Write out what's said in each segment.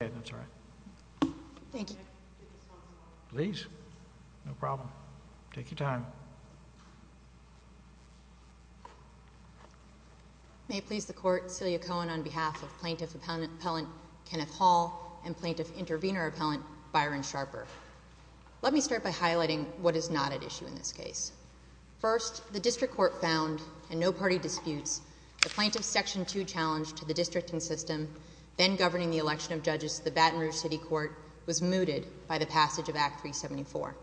May I please the court, Celia Cohen, on behalf of Plaintiff Appellant Kenneth Hall and Plaintiff Intervenor Appellant Byron Sharper. Let me start by highlighting what is not at issue in this case. First, the District Court found in no party disputes the Plaintiff's Section 2 challenge to the districting system, then governing the election of judges to the Baton Rouge City Court, was mooted by the passage of Act 374.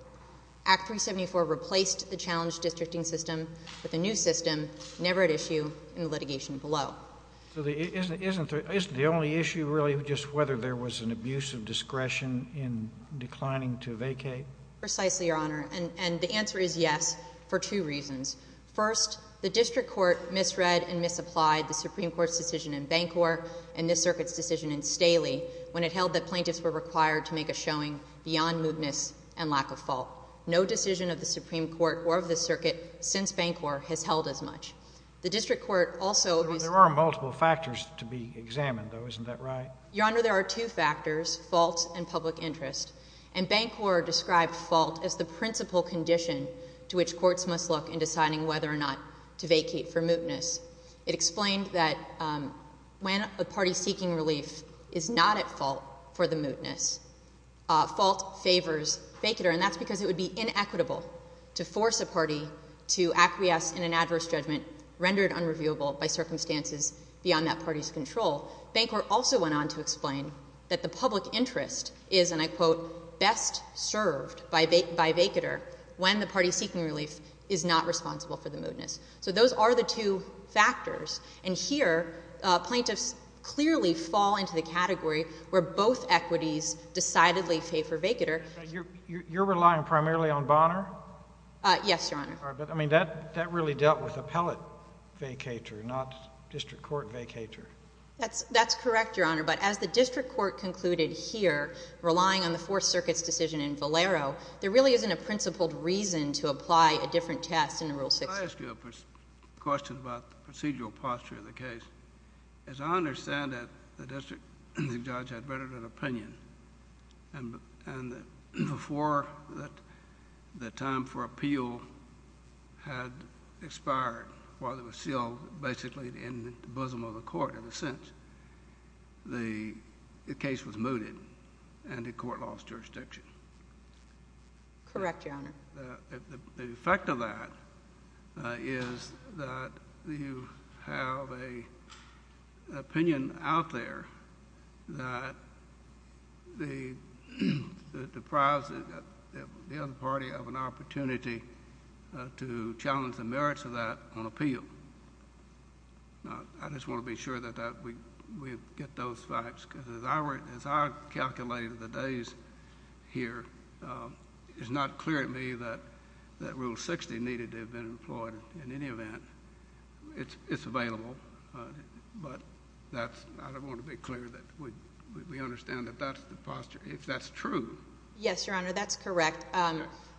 Act 374 replaced the challenged districting system with a new system, never at issue in the litigation below. So isn't the only issue really just whether there was an abuse of discretion in declining to vacate? Precisely, Your Honor, and the answer is yes for two reasons. First, the District Court misread and misapplied the Supreme Court's decision in Bancor and this circuit's decision in Staley when it held that plaintiffs were required to make a showing beyond moodness and lack of fault. No decision of the Supreme Court or of the circuit since Bancor has held as much. The District Court also— There are multiple factors to be examined, though, isn't that right? Your Honor, there are two factors, fault and public interest, and Bancor described fault as the principal condition to which courts must look in deciding whether or not to vacate for moodness. It explained that when a party seeking relief is not at fault for the moodness, fault favors vacater, and that's because it would be inequitable to force a party to acquiesce in an adverse judgment rendered unreviewable by circumstances beyond that party's control. Bancor also went on to explain that the public interest is, and I quote, best served by vacater when the party seeking relief is not responsible for the moodness. So those are the two factors, and here, plaintiffs clearly fall into the category where both equities decidedly favor vacater. You're relying primarily on Bonner? Yes, Your Honor. All right, but I mean, that really dealt with appellate vacater, not District Court vacater. That's correct, Your Honor, but as the District Court concluded here, relying on the Fourth Circuit's decision in Valero, there really isn't a principled reason to apply a different test in Rule 60. Can I ask you a question about the procedural posture of the case? As I understand it, the district judge had written an opinion, and before the time for this case, or ever since, the case was mooted, and the court lost jurisdiction. Correct, Your Honor. The effect of that is that you have an opinion out there that deprives the other party of an opportunity to challenge the merits of that on appeal. Now, I just want to be sure that we get those facts, because as I calculated the days here, it's not clear to me that Rule 60 needed to have been employed in any event. It's available, but I don't want to be clear that we understand that that's the posture, if that's true. Yes, Your Honor. That's correct.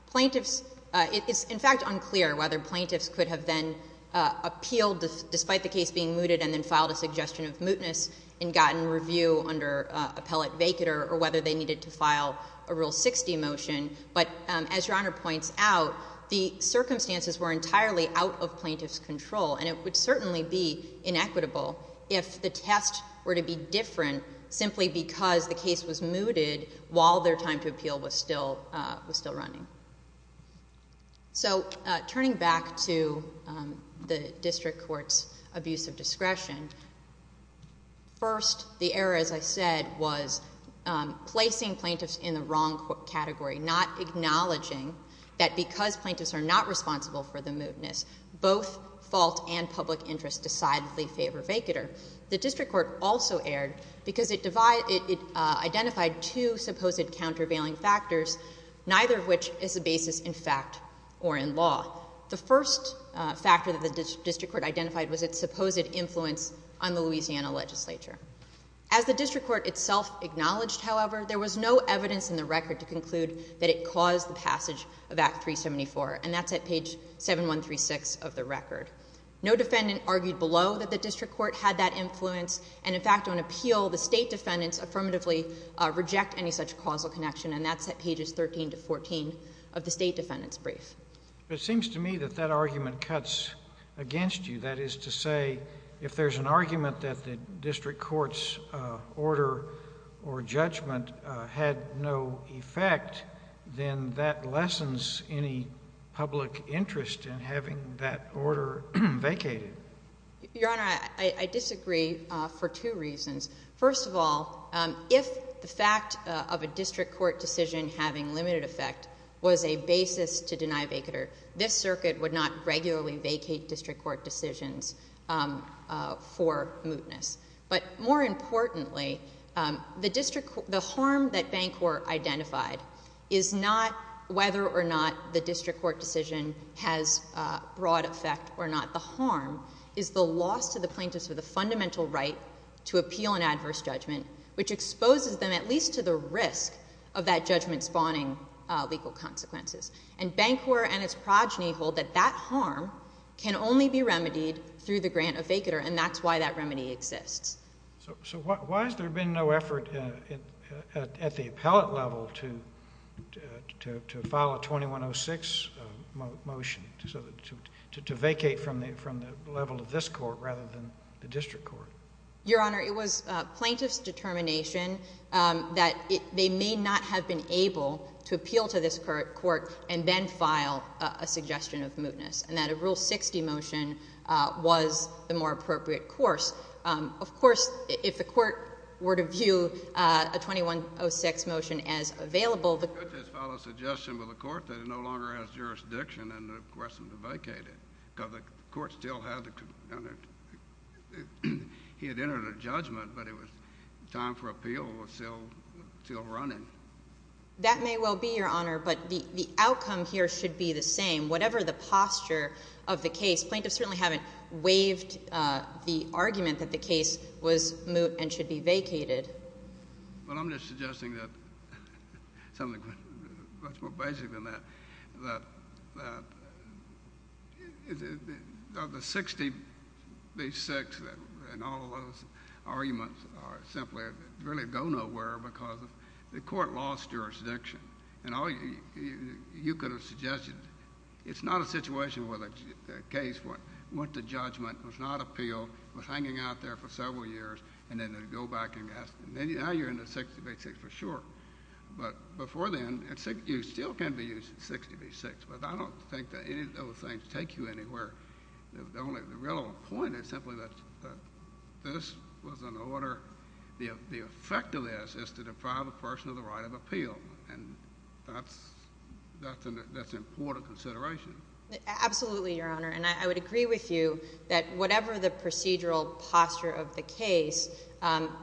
Plaintiffs — it's, in fact, unclear whether plaintiffs could have then appealed despite the case being mooted and then filed a suggestion of mootness and gotten review under Appellate Vacater, or whether they needed to file a Rule 60 motion, but as Your Honor points out, the circumstances were entirely out of plaintiffs' control, and it would certainly be inequitable if the test were to be different simply because the case was mooted while their time to appeal was still running. So turning back to the district court's abuse of discretion, first, the error, as I said, was placing plaintiffs in the wrong category, not acknowledging that because plaintiffs are not responsible for the mootness, both fault and public interest decidedly favor Vacater. The district court also erred because it identified two supposed countervailing factors, neither of which is a basis in fact or in law. The first factor that the district court identified was its supposed influence on the Louisiana legislature. As the district court itself acknowledged, however, there was no evidence in the record to conclude that it caused the passage of Act 374, and that's at page 7136 of the record. No defendant argued below that the district court had that influence, and in fact on appeal, the state defendants affirmatively reject any such causal connection, and that's at pages 13 to 14 of the state defendants' brief. But it seems to me that that argument cuts against you, that is to say, if there's an argument that the district court's order or judgment had no effect, then that lessens any public interest in having that order vacated. Your Honor, I disagree for two reasons. First of all, if the fact of a district court decision having limited effect was a basis to deny Vacater, this circuit would not regularly vacate district court decisions for mootness. But more importantly, the harm that Bancor identified is not whether or not the district court decision has broad effect or not. The harm is the loss to the plaintiffs of the fundamental right to appeal an adverse judgment, which exposes them at least to the risk of that judgment spawning legal consequences. And Bancor and its progeny hold that that harm can only be remedied through the grant of Vacater, and that's why that remedy exists. So why has there been no effort at the appellate level to file a 2106 motion to vacate from the level of this court rather than the district court? Your Honor, it was plaintiff's determination that they may not have been able to appeal to this court and then file a suggestion of mootness, and that a Rule 60 motion was the more appropriate course. Of course, if the court were to view a 2106 motion as available, the court could just file a suggestion with the court that it no longer has jurisdiction and the question to vacate it, because the court still had to—he had entered a judgment, but it was time for appeal was still running. That may well be, Your Honor, but the outcome here should be the same. Whatever the posture of the case, plaintiffs certainly haven't waived the argument that the case was moot and should be vacated. But I'm just suggesting that something much more basic than that, that the 60 v. 6 and all of those arguments are simply—really go nowhere because the court lost jurisdiction. You could have suggested—it's not a situation where the case went to judgment, was not appealed, was hanging out there for several years, and then they'd go back and ask—now you're in the 60 v. 6 for sure. But before then, you still can be used in 60 v. 6, but I don't think that any of those things take you anywhere. The real point is simply that this was an order—the effect of this is to deprive a person of the right of appeal, and that's an important consideration. Absolutely, Your Honor, and I would agree with you that whatever the procedural posture of the case,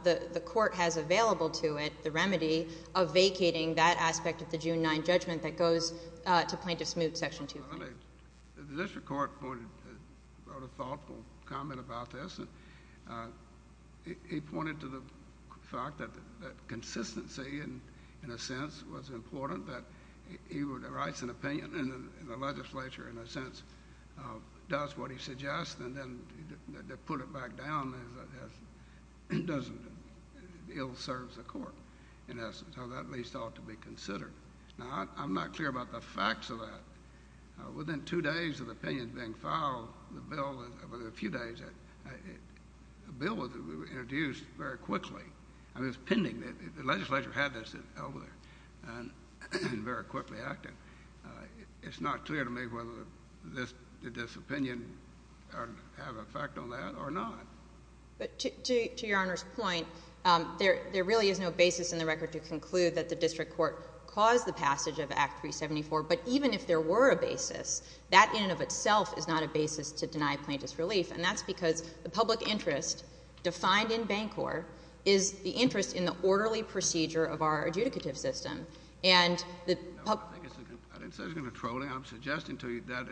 the court has available to it the remedy of vacating that aspect of the June 9 judgment that goes to Plaintiff's moot, Section 2. The district court wrote a thoughtful comment about this, and it pointed to the fact that consistency, in a sense, was important, that he writes an opinion, and the legislature, in a sense, does what he suggests, and then to put it back down doesn't—it ill-serves the court, in essence, so that at least ought to be considered. Now, I'm not clear about the facts of that. Within two days of the opinion being filed, the bill—within a few days, a bill was introduced very quickly. I mean, it was pending. The legislature had this over there, and very quickly acted. It's not clear to me whether this—did this opinion have an effect on that or not. But to Your Honor's point, there really is no basis in the record to conclude that the district court caused the passage of Act 374, but even if there were a basis, that in and of itself is not a basis to deny Plaintiff's relief, and that's because the public interest defined in Bancorp is the interest in the orderly procedure of our adjudicative system, and the public— No, I think it's a—I didn't say it was going to trolling. I'm suggesting to you that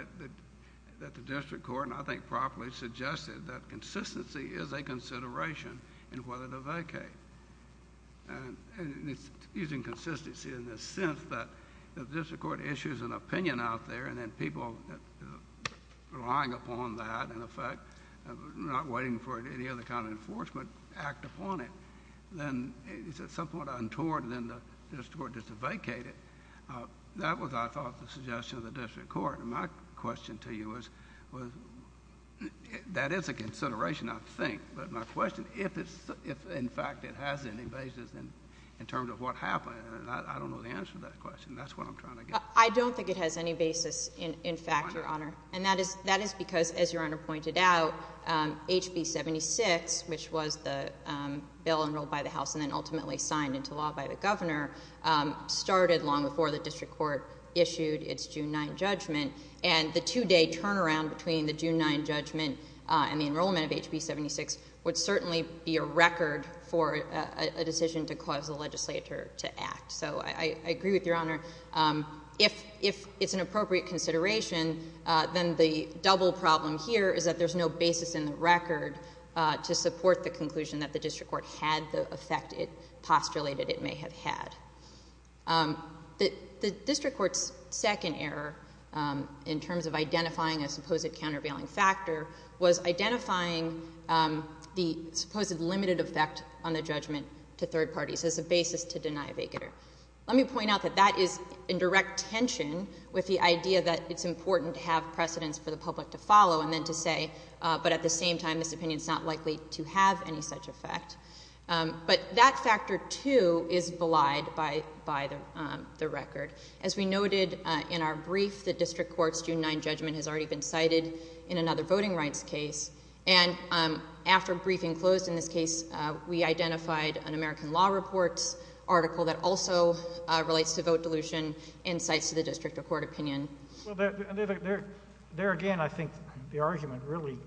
the district court, and I think properly, suggested that consistency is a consideration in whether to vacate, and it's using consistency in the sense that the district court issues an opinion out there, and then people relying upon that in effect, not waiting for any other kind of enforcement, act upon it, then it's at some point untoward, and then the district court just vacated. That was, I thought, the suggestion of the district court, and my question to you is, that is a consideration, I think, but my question, if, in fact, it has any basis in terms of what happened, I don't know the answer to that question. That's what I'm trying to get at. I don't think it has any basis, in fact, Your Honor. And that is because, as Your Honor pointed out, HB 76, which was the bill enrolled by the House and then ultimately signed into law by the governor, started long before the district court issued its June 9 judgment, and the two-day turnaround between the June 9 judgment and the enrollment of HB 76 would certainly be a record for a decision to cause the legislature to act. So I agree with Your Honor. If it's an appropriate consideration, then the double problem here is that there's no basis in the record to support the conclusion that the district court had the effect it postulated it may have had. The district court's second error, in terms of identifying a supposed countervailing factor, was identifying the supposed limited effect on the judgment to third parties as a basis to deny a vacater. Let me point out that that is in direct tension with the idea that it's important to have precedence for the public to follow and then to say, but at the same time, this opinion is not likely to have any such effect. But that factor, too, is belied by the record. As we noted in our brief, the district court's June 9 judgment has already been cited in another voting rights case, and after briefing closed in this case, we identified an American Law Report article that also relates to vote dilution and cites to the district or court opinion. Well, there again, I think the argument really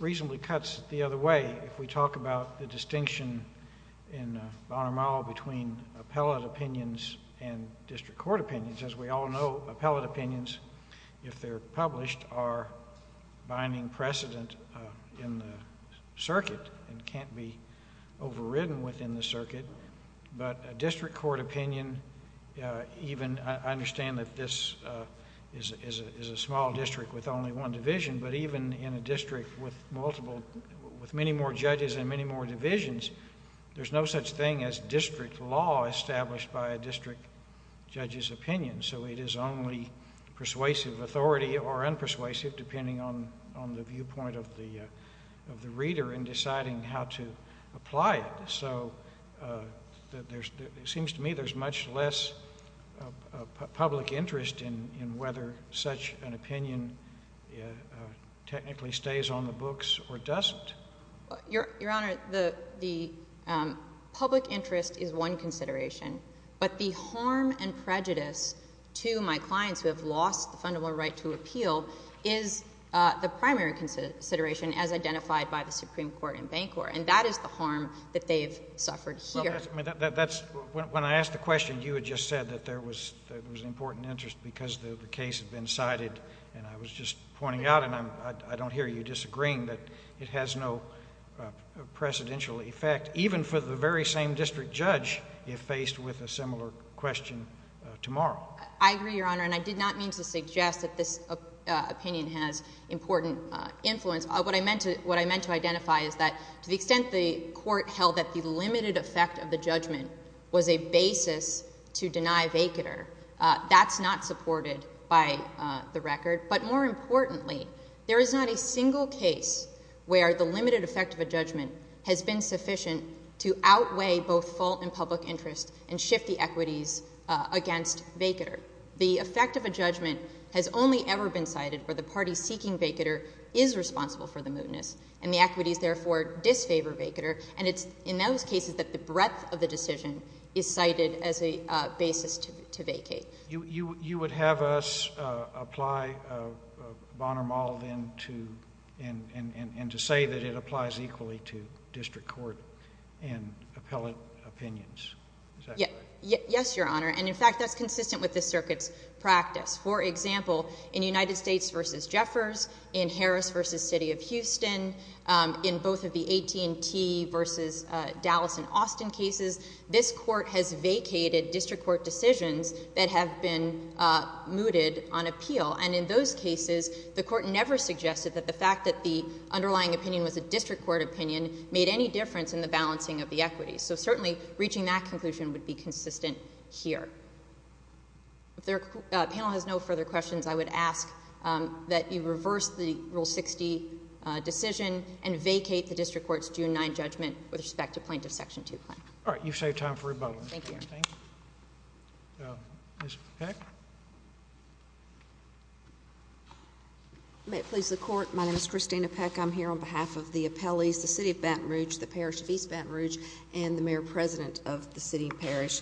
reasonably cuts the other way if we talk about the distinction in Bonnar-Marle between appellate opinions and district court opinions. As we all know, appellate opinions, if they're published, are binding precedent in the circuit and can't be overridden within the circuit, but a district court opinion even... I understand that this is a small district with only one division, but even in a district with multiple... with many more judges and many more divisions, there's no such thing as district law established by a district judge's opinion, so it is only persuasive authority or unpersuasive, depending on the viewpoint of the reader in deciding how to apply it. So it seems to me there's much less public interest in whether such an opinion technically stays on the books or doesn't. Your Honor, the public interest is one consideration, but the harm and prejudice to my clients who have lost the fundamental right to appeal is the primary consideration as identified by the Supreme Court and Bancorp, and that is the harm that they have suffered here. Well, that's... when I asked the question, you had just said that there was an important interest because the case had been cited, and I was just pointing out, and I don't hear you disagreeing, that it has no precedential effect, even for the very same district judge if faced with a similar question tomorrow. Well, I agree, Your Honor, and I did not mean to suggest that this opinion has important influence. What I meant to identify is that to the extent the Court held that the limited effect of the judgment was a basis to deny vacater, that's not supported by the record. But more importantly, there is not a single case where the limited effect of a judgment has been sufficient to outweigh both fault and public interest and shift the equities against vacater. The effect of a judgment has only ever been cited where the party seeking vacater is responsible for the mootness, and the equities, therefore, disfavor vacater, and it's in those cases that the breadth of the decision is cited as a basis to vacate. You would have us apply Bonner-Mall, then, to... and to say that it applies equally to district court and appellate opinions. Is that correct? Yes, Your Honor, and in fact, that's consistent with the circuit's practice. For example, in United States v. Jeffers, in Harris v. City of Houston, in both of the AT&T v. Dallas and Austin cases, this Court has vacated district court decisions that have been mooted on appeal, and in those cases, the Court never suggested that the fact that the underlying opinion was a district court opinion made any difference in the balancing of the equities. So certainly, reaching that conclusion would be consistent here. If the panel has no further questions, I would ask that you reverse the Rule 60 decision and vacate the district court's June 9 judgment with respect to plaintiff's Section 2 claim. All right. You've saved time for rebuttals. Thank you, Your Honor. Ms. Peck? May it please the Court, my name is Christina Peck. I'm here on behalf of the appellees, the City of Baton Rouge, the Parish of East Baton Rouge, and the Mayor-President of the City Parish.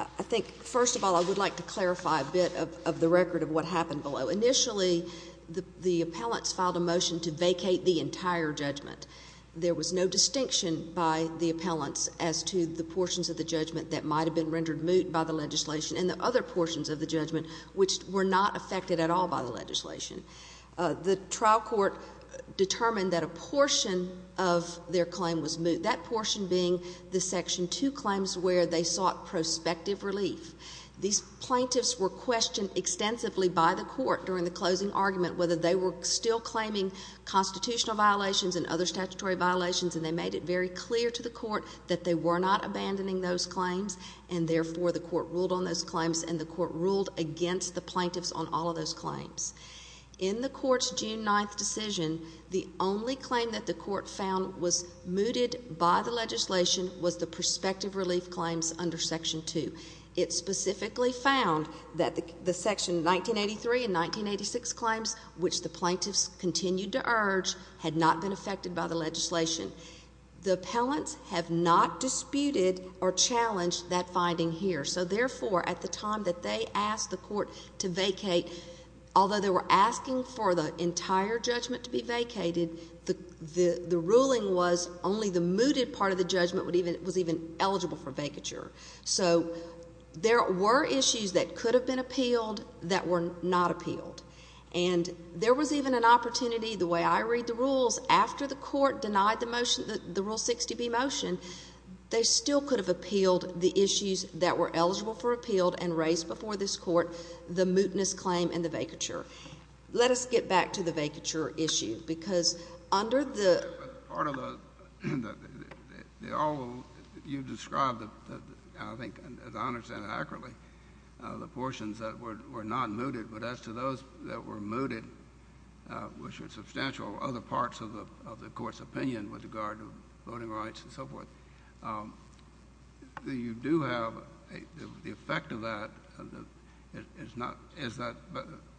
I think, first of all, I would like to clarify a bit of the record of what happened below. Initially, the appellants filed a motion to vacate the entire judgment. There was no distinction by the appellants as to the portions of the judgment that might have been rendered moot by the legislation, and the other portions of the judgment which were not affected at all by the legislation. The trial court determined that a portion of their claim was moot. That portion being the Section 2 claims where they sought prospective relief. These plaintiffs were questioned extensively by the court during the closing argument whether they were still claiming constitutional violations and other statutory violations, and they made it very clear to the court that they were not abandoning those claims, and therefore the court ruled on those claims, and the court ruled against the plaintiffs on all of those claims. In the court's June 9th decision, the only claim that the court found was mooted by the legislation was the prospective relief claims under Section 2. It specifically found that the Section 1983 and 1986 claims, which the plaintiffs continued to urge, had not been affected by the legislation. The appellants have not disputed or challenged that finding here, so therefore, at the time that they asked the court to vacate, although they were asking for the entire judgment to be vacated, the ruling was only the mooted part of the judgment was even eligible for vacature. So, there were issues that could have been appealed that were not appealed, and there was even an opportunity, the way I read the rules, after the court denied the Rule 60B motion, they still could have appealed the issues that were eligible for appealed and raised before this Court, the mootness claim and the vacature. Let us get back to the vacature issue, because under the... But part of the... you described, I think, as I understand it accurately, the portions that were not mooted, but as to those that were mooted, which are substantial other parts of the Court's opinion with regard to voting rights and so forth, you do have the effect of that. It is not... is that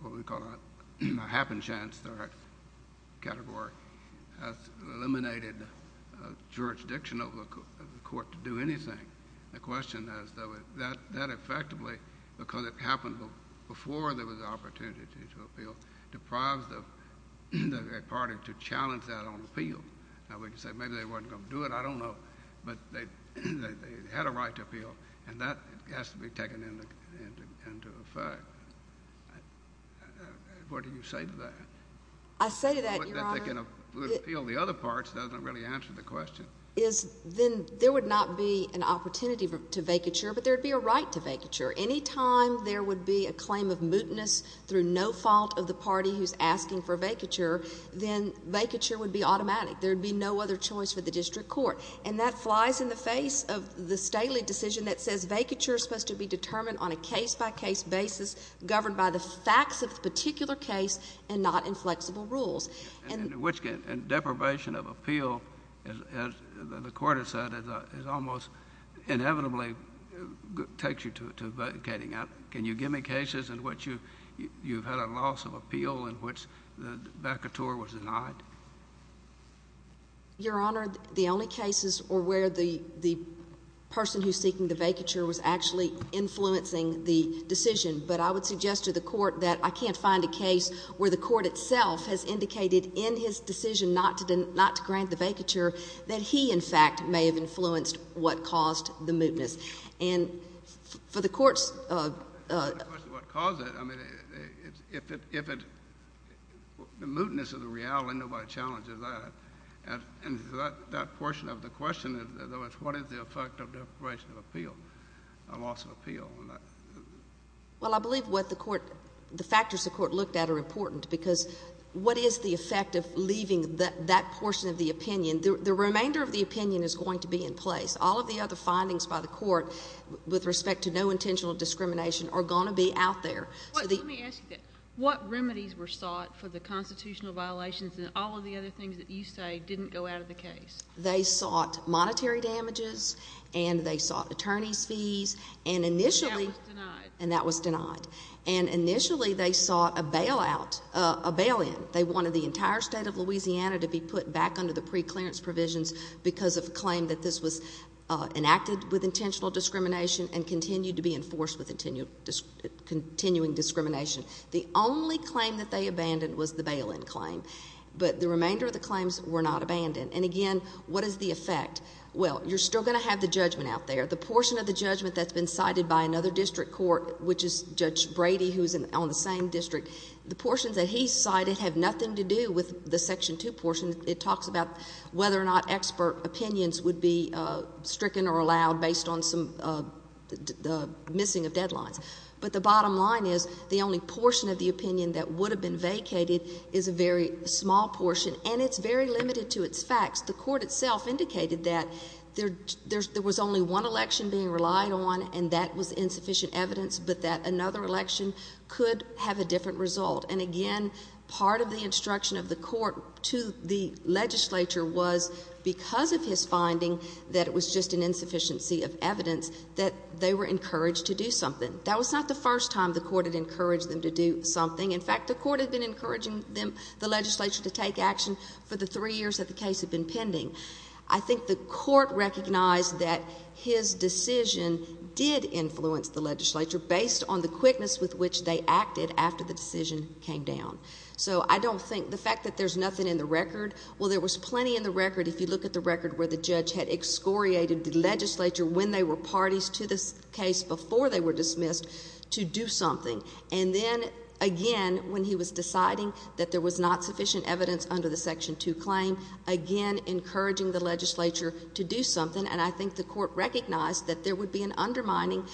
what we call a happenstance, the right category, has eliminated the jurisdiction of the Court to do anything. The question is, though, is that effectively, because it happened before there was an opportunity to appeal, deprives the party to challenge that on appeal? Now, we can say maybe they were not going to do it, I do not know, but they had a right to appeal. And that has to be taken into effect. What do you say to that? I say to that, Your Honor... That they can appeal the other parts does not really answer the question. Then there would not be an opportunity to vacature, but there would be a right to vacature. Any time there would be a claim of mootness through no fault of the party who is asking for vacature, then vacature would be automatic. There would be no other choice for the district court. And that flies in the face of the stately decision that says vacature is supposed to be determined on a case-by-case basis, governed by the facts of the particular case and not inflexible rules. And which deprivation of appeal, as the Court has said, almost inevitably takes you to vacating. Can you give me cases in which you have had a loss of appeal in which the vacateur was denied? Your Honor, the only cases are where the person who is seeking the vacature was actually influencing the decision. But I would suggest to the Court that I cannot find a case where the Court itself has indicated in his decision not to grant the vacature that he, in fact, may have influenced what caused the mootness. And for the Court's... I mean, if it... the mootness of the reality, nobody challenges that. And that portion of the question, in other words, what is the effect of deprivation of appeal, a loss of appeal? Well, I believe what the Court... the factors the Court looked at are important because what is the effect of leaving that portion of the opinion? The remainder of the opinion is going to be in place. All of the other findings by the Court with respect to no intentional discrimination are going to be out there. So the... Let me ask you that. What remedies were sought for the constitutional violations and all of the other things that you say didn't go out of the case? They sought monetary damages, and they sought attorney's fees, and initially... And that was denied. And that was denied. And initially, they sought a bailout, a bail-in. They wanted the entire state of Louisiana to be put back under the preclearance provisions because of a claim that this was enacted with intentional discrimination and continued to be enforced with continuing discrimination. The only claim that they abandoned was the bail-in claim, but the remainder of the claims were not abandoned. And again, what is the effect? Well, you're still going to have the judgment out there. The portion of the judgment that's been cited by another district court, which is Judge Brady, who's on the same district, the portions that he cited have nothing to do with the Section 2 portion. It talks about whether or not expert opinions would be stricken or allowed based on some of the missing of deadlines. But the bottom line is, the only portion of the opinion that would have been vacated is a very small portion, and it's very limited to its facts. The court itself indicated that there was only one election being relied on, and that was insufficient evidence, but that another election could have a different result. And again, part of the instruction of the court to the legislature was, because of his insufficiency of evidence, that they were encouraged to do something. That was not the first time the court had encouraged them to do something. In fact, the court had been encouraging them, the legislature, to take action for the three years that the case had been pending. I think the court recognized that his decision did influence the legislature based on the quickness with which they acted after the decision came down. So I don't think, the fact that there's nothing in the record, well, there was plenty in the parties to this case before they were dismissed, to do something. And then, again, when he was deciding that there was not sufficient evidence under the Section 2 claim, again, encouraging the legislature to do something. And I think the court recognized that there would be an undermining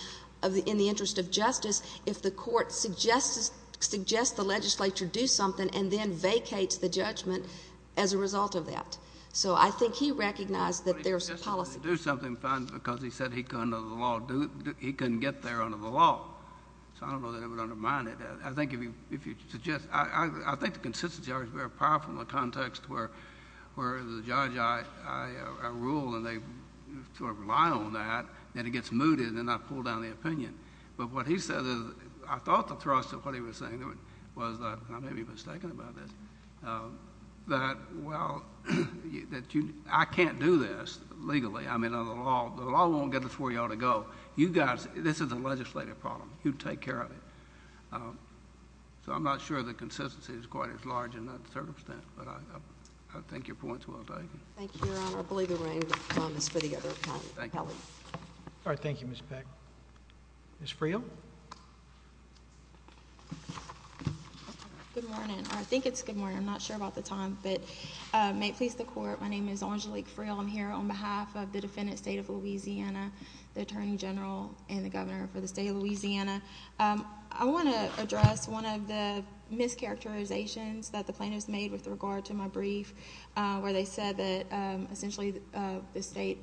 in the interest of justice if the court suggests the legislature do something and then vacates the judgment as a result of that. So I think he recognized that there's policy. I think he suggested that they do something because he said he couldn't get there under the law. So I don't know that it would undermine it. I think if you suggest... I think the consistency argument is very powerful in the context where the judge, I rule, and they sort of rely on that, then it gets mooted, and then I pull down the opinion. But what he said is, I thought the thrust of what he was saying was, and I may be mistaken about this, that while I can't do this legally, I mean, under the law, the law won't get us where you ought to go. You guys... this is a legislative problem. You take care of it. So I'm not sure the consistency is quite as large in that circumstance, but I think your point's well taken. Thank you, Your Honor. I believe there are any other comments for the other attorney? Thank you. All right. Thank you, Ms. Beck. Ms. Freel? Good morning. I think it's good morning. I'm not sure about the time, but may it please the Court, my name is Angelique Freel. I'm here on behalf of the defendant, State of Louisiana, the Attorney General, and the Governor for the State of Louisiana. I want to address one of the mischaracterizations that the plaintiffs made with regard to my brief where they said that essentially the state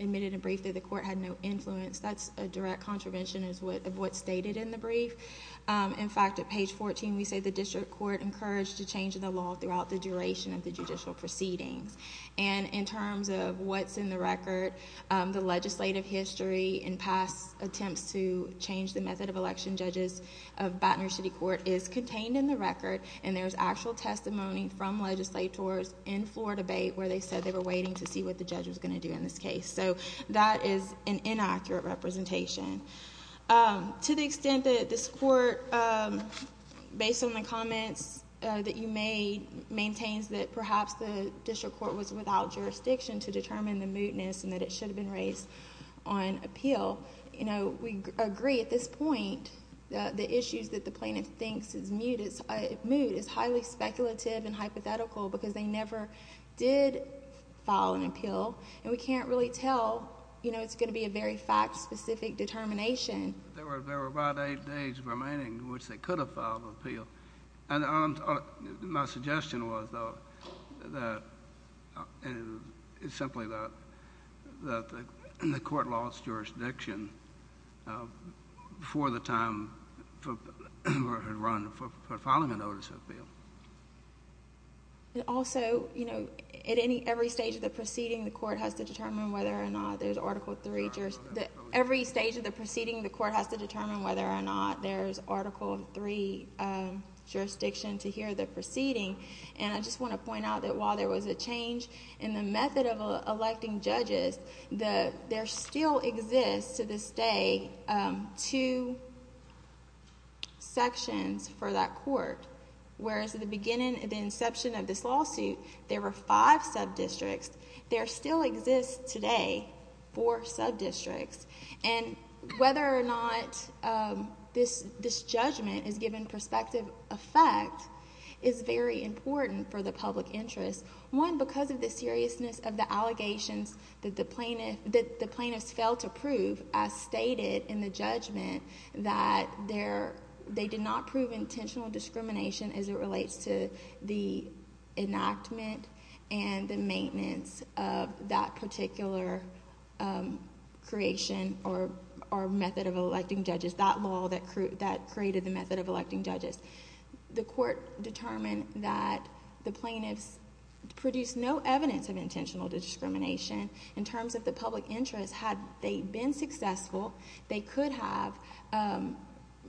admitted in a brief that the court had no influence. That's a direct contravention of what's stated in the brief. In fact, at page 14, we say the district court encouraged a change in the law throughout the duration of the judicial proceedings. And in terms of what's in the record, the legislative history and past attempts to change the method of election judges of Baton Rouge City Court is contained in the record, and there's actual testimony from legislators in floor debate where they said they were waiting to see what the judge was going to do in this case. So that is an inaccurate representation. To the extent that this Court, based on the comments that you made, maintains that perhaps the district court was without jurisdiction to determine the mootness and that it should have been raised on appeal, you know, we agree at this point that the issues that the plaintiff thinks is moot is highly speculative and hypothetical because they never did file an appeal, and we can't really tell, you know, it's going to be a very fact-specific determination. There were about eight days remaining in which they could have filed an appeal, and my suggestion was, though, that it's simply that the court lost jurisdiction before the time had run for filing a notice of appeal. And also, you know, at every stage of the proceeding, the court has to determine whether or not there's Article III. Every stage of the proceeding, the court has to determine whether or not there's Article III jurisdiction to hear the proceeding, and I just want to point out that while there was a change in the method of electing judges, there still exists to this day two sections for that court, whereas at the beginning, at the inception of this lawsuit, there were five sub-districts. There still exists today four sub-districts, and whether or not this judgment is given prospective effect is very important for the public interest, one, because of the seriousness of the allegations that the plaintiffs failed to prove, as stated in the judgment, that they did not prove intentional discrimination as it relates to the enactment and the maintenance of that particular creation or method of electing judges, that law that created the method of electing judges. The court determined that the plaintiffs produced no evidence of intentional discrimination in terms of the public interest. Had they been successful, they could have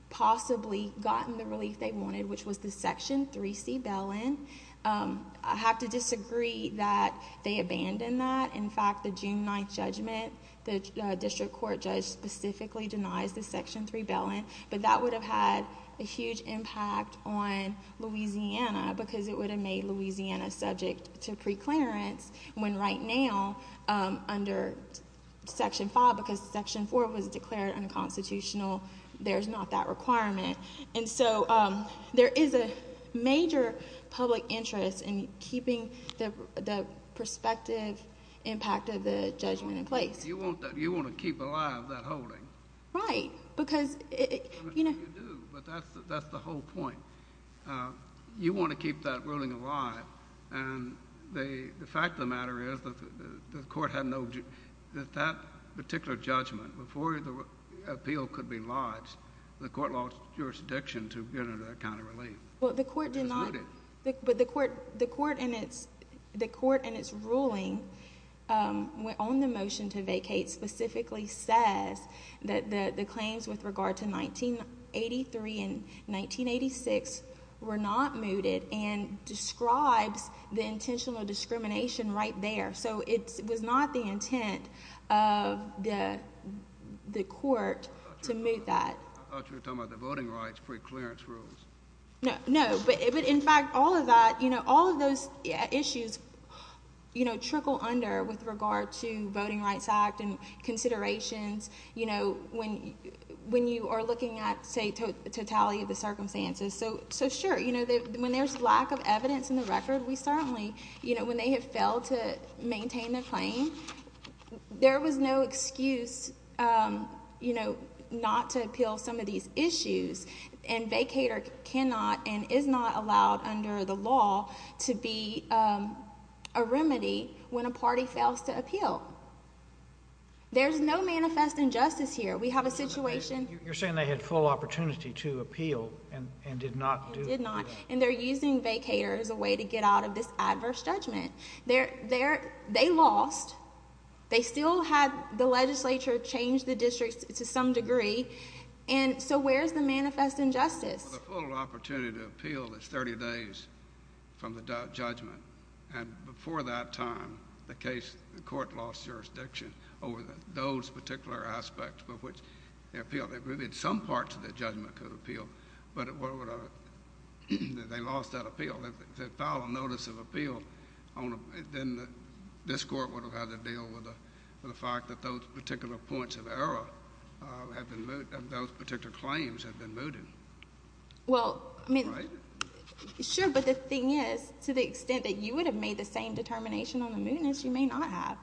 possibly gotten the relief they wanted, which was the Section 3C bail-in. I have to disagree that they abandoned that. In fact, the June 9th judgment, the district court judge specifically denies the Section 3 bail-in, but that would have had a huge impact on Louisiana because it would have made Louisiana subject to preclearance, when right now, under Section 5, because Section 4 was declared unconstitutional, there's not that requirement. There is a major public interest in keeping the prospective impact of the judgment in place. You want to keep alive that holding. Right. You do, but that's the whole point. You want to keep that ruling alive. The fact of the matter is that the court had no... that that particular judgment, before the appeal could be lodged, the court lost jurisdiction to get into that kind of relief. Well, the court did not... It was mooted. But the court in its ruling on the motion to vacate specifically says that the claims with regard to 1983 and 1986 were not mooted and describes the intentional discrimination right there, so it was not the intent of the court to moot that. I thought you were talking about the Voting Rights Preclearance Rules. No, but in fact, all of that... all of those issues trickle under with regard to when you are looking at, say, totality of the circumstances. So, sure, when there's lack of evidence in the record, we certainly... when they have failed to maintain their claim, there was no excuse not to appeal some of these issues, and vacater cannot and is not allowed under the law to be a remedy when a party fails to appeal. There's no manifest injustice here. We have a situation... You're saying they had full opportunity to appeal and did not do... They did not, and they're using vacater as a way to get out of this adverse judgment. They lost. They still had the legislature change the districts to some degree, and so where's the manifest injustice? The full opportunity to appeal is 30 days from the judgment, and before that time, the judge could have appealed. There would have been some parts of that judgment that could have appealed, but they lost that appeal. If they filed a notice of appeal, then this court would have had to deal with the fact that those particular points of error had been... those particular claims had been mooted. Well, I mean... Right? Sure, but the thing is, to the extent that you would have made the same determination on the mootness, you may not have.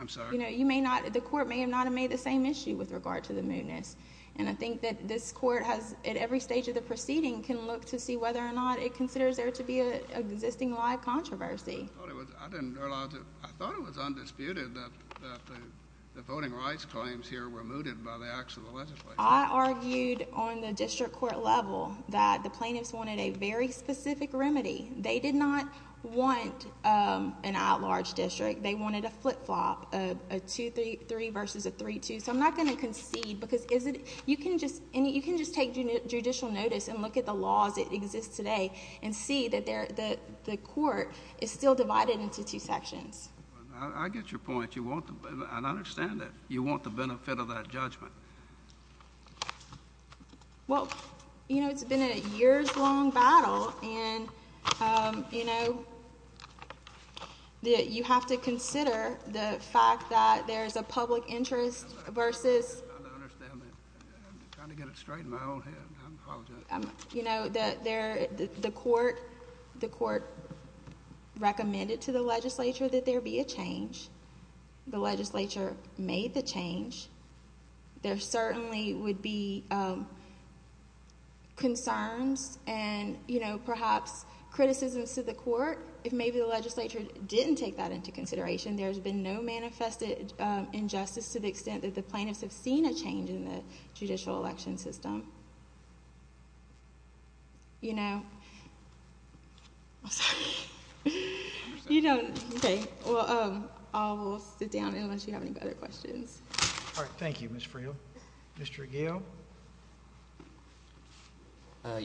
I'm sorry? You may not... the court may not have made the same issue with regard to the mootness, and I think that this court has, at every stage of the proceeding, can look to see whether or not it considers there to be an existing live controversy. I thought it was undisputed that the voting rights claims here were mooted by the acts of the legislature. I argued on the district court level that the plaintiffs wanted a very specific remedy. They did not want an outlarge district. They wanted a flip-flop, a 2-3 versus a 3-2, so I'm not going to concede because you can just... and you can just take judicial notice and look at the laws that exist today and see that the court is still divided into two sections. I get your point. I understand that you want the benefit of that judgment. Well, you know, it's been a years-long battle, and, you know, you have to consider the fact that there's a public interest versus... I'm trying to get it straight in my own head. I apologize. You know, the court recommended to the legislature that there be a change. The legislature made the change. There certainly would be concerns and, you know, perhaps criticisms to the court if maybe the legislature didn't take that into consideration. There's been no manifested injustice to the extent that the plaintiffs have seen a change in the judicial election system. You know? I'm sorry. I understand. You know. Okay. Well, I will sit down unless you have any other questions. All right. Thank you, Ms. Friel. Mr. Aguilo?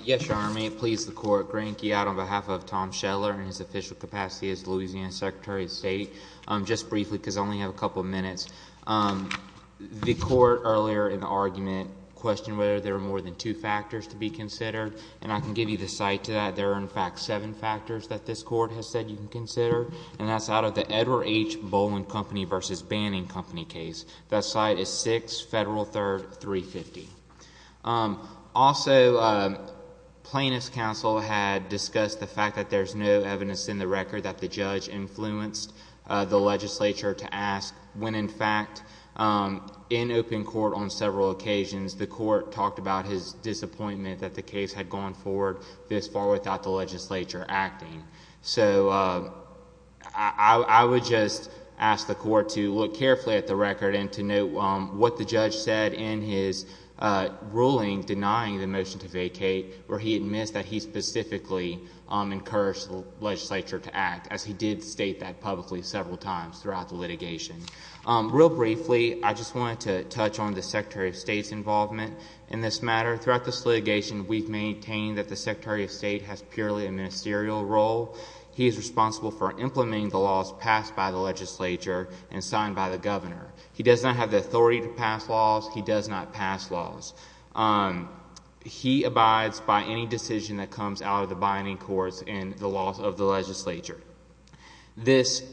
Yes, Your Honor. May it please the court, Grant Guyot on behalf of Tom Scheller in his official capacity as Louisiana Secretary of State. Just briefly because I only have a couple of minutes. The court earlier in the argument questioned whether there were more than two factors to be considered, and I can give you the site to that. There are, in fact, seven factors that this court has said you can consider, and that's out of the Edward H. Boland Company v. Banning Company case. That site is 6 Federal 3rd, 350. Also plaintiff's counsel had discussed the fact that there's no evidence in the record that the judge influenced the legislature to ask when, in fact, in open court on several occasions, the court talked about his disappointment that the case had gone forward this far without the legislature acting. So I would just ask the court to look carefully at the record and to note what the judge said in his ruling denying the motion to vacate, where he admits that he specifically encouraged the legislature to act, as he did state that publicly several times throughout the litigation. Real briefly, I just wanted to touch on the Secretary of State's involvement in this matter. Throughout this litigation, we've maintained that the Secretary of State has purely a ministerial role. He is responsible for implementing the laws passed by the legislature and signed by the governor. He does not have the authority to pass laws. He does not pass laws. He abides by any decision that comes out of the binding courts and the laws of the legislature. This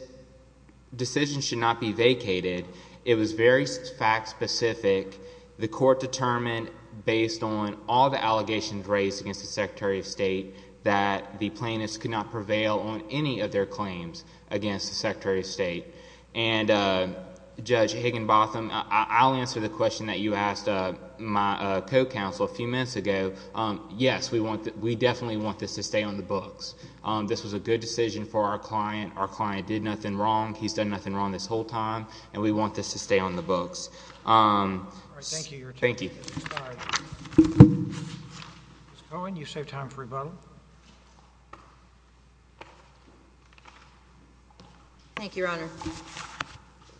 decision should not be vacated. It was very fact-specific. The court determined, based on all the allegations raised against the Secretary of State, that the plaintiffs could not prevail on any of their claims against the Secretary of State. And Judge Higginbotham, I'll answer the question that you asked my co-counsel a few minutes ago. Yes, we definitely want this to stay on the books. This was a good decision for our client. Our client did nothing wrong. He's done nothing wrong this whole time, and we want this to stay on the books. Thank you. Thank you. Ms. Cohen, you saved time for rebuttal. Thank you, Your Honor.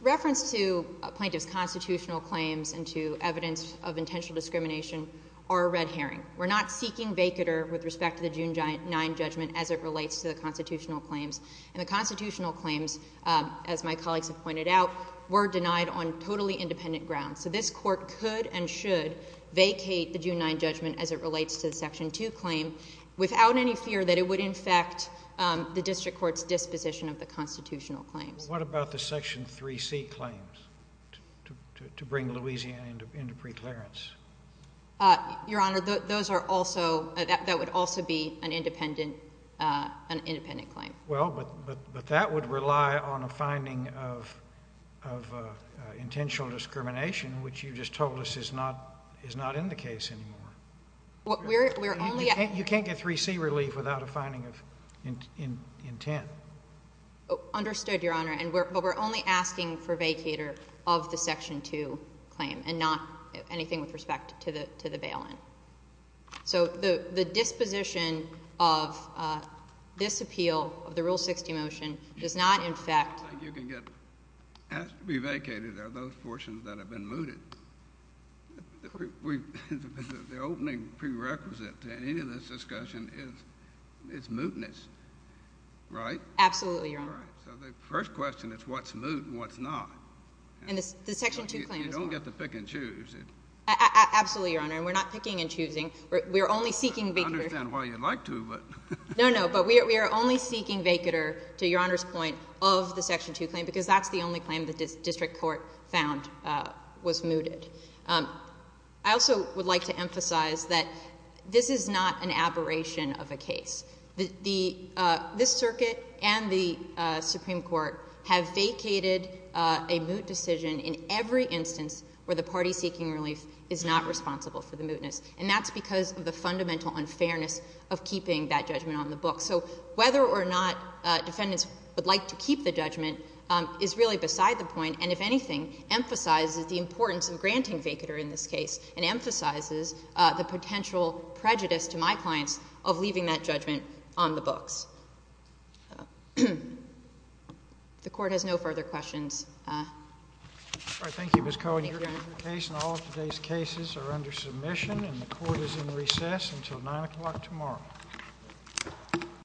Reference to a plaintiff's constitutional claims and to evidence of intentional discrimination are a red herring. We're not seeking vacater with respect to the June 9 judgment as it relates to the constitutional claims. And the constitutional claims, as my colleagues have pointed out, were denied on totally independent grounds. So this court could and should vacate the June 9 judgment as it relates to the Section 2 claim without any fear that it would infect the district court's disposition of the constitutional claims. What about the Section 3C claims to bring Louisiana into preclearance? Your Honor, those are also, that would also be an independent, an independent claim. Well, but that would rely on a finding of intentional discrimination, which you just told us is not in the case anymore. You can't get 3C relief without a finding of intent. Understood, Your Honor. But we're only asking for vacater of the Section 2 claim and not anything with respect to the bail-in. So the disposition of this appeal, of the Rule 60 motion, does not in fact— I don't think you can get asked to be vacated are those portions that have been mooted. The opening prerequisite to any of this discussion is mootness, right? Absolutely, Your Honor. All right. So the first question is what's moot and what's not. And the Section 2 claim is— You don't get to pick and choose. Absolutely, Your Honor. And we're not picking and choosing. We're only seeking vacater— I understand why you'd like to, but— No, no. But we are only seeking vacater, to Your Honor's point, of the Section 2 claim because that's the only claim the district court found was mooted. I also would like to emphasize that this is not an aberration of a case. This Circuit and the Supreme Court have vacated a moot decision in every instance where the mootness was found. And that's because of the fundamental unfairness of keeping that judgment on the books. So whether or not defendants would like to keep the judgment is really beside the point and, if anything, emphasizes the importance of granting vacater in this case and emphasizes the potential prejudice to my clients of leaving that judgment on the books. The Court has no further questions. All right. Thank you, Ms. Cohen. Thank you, Your Honor.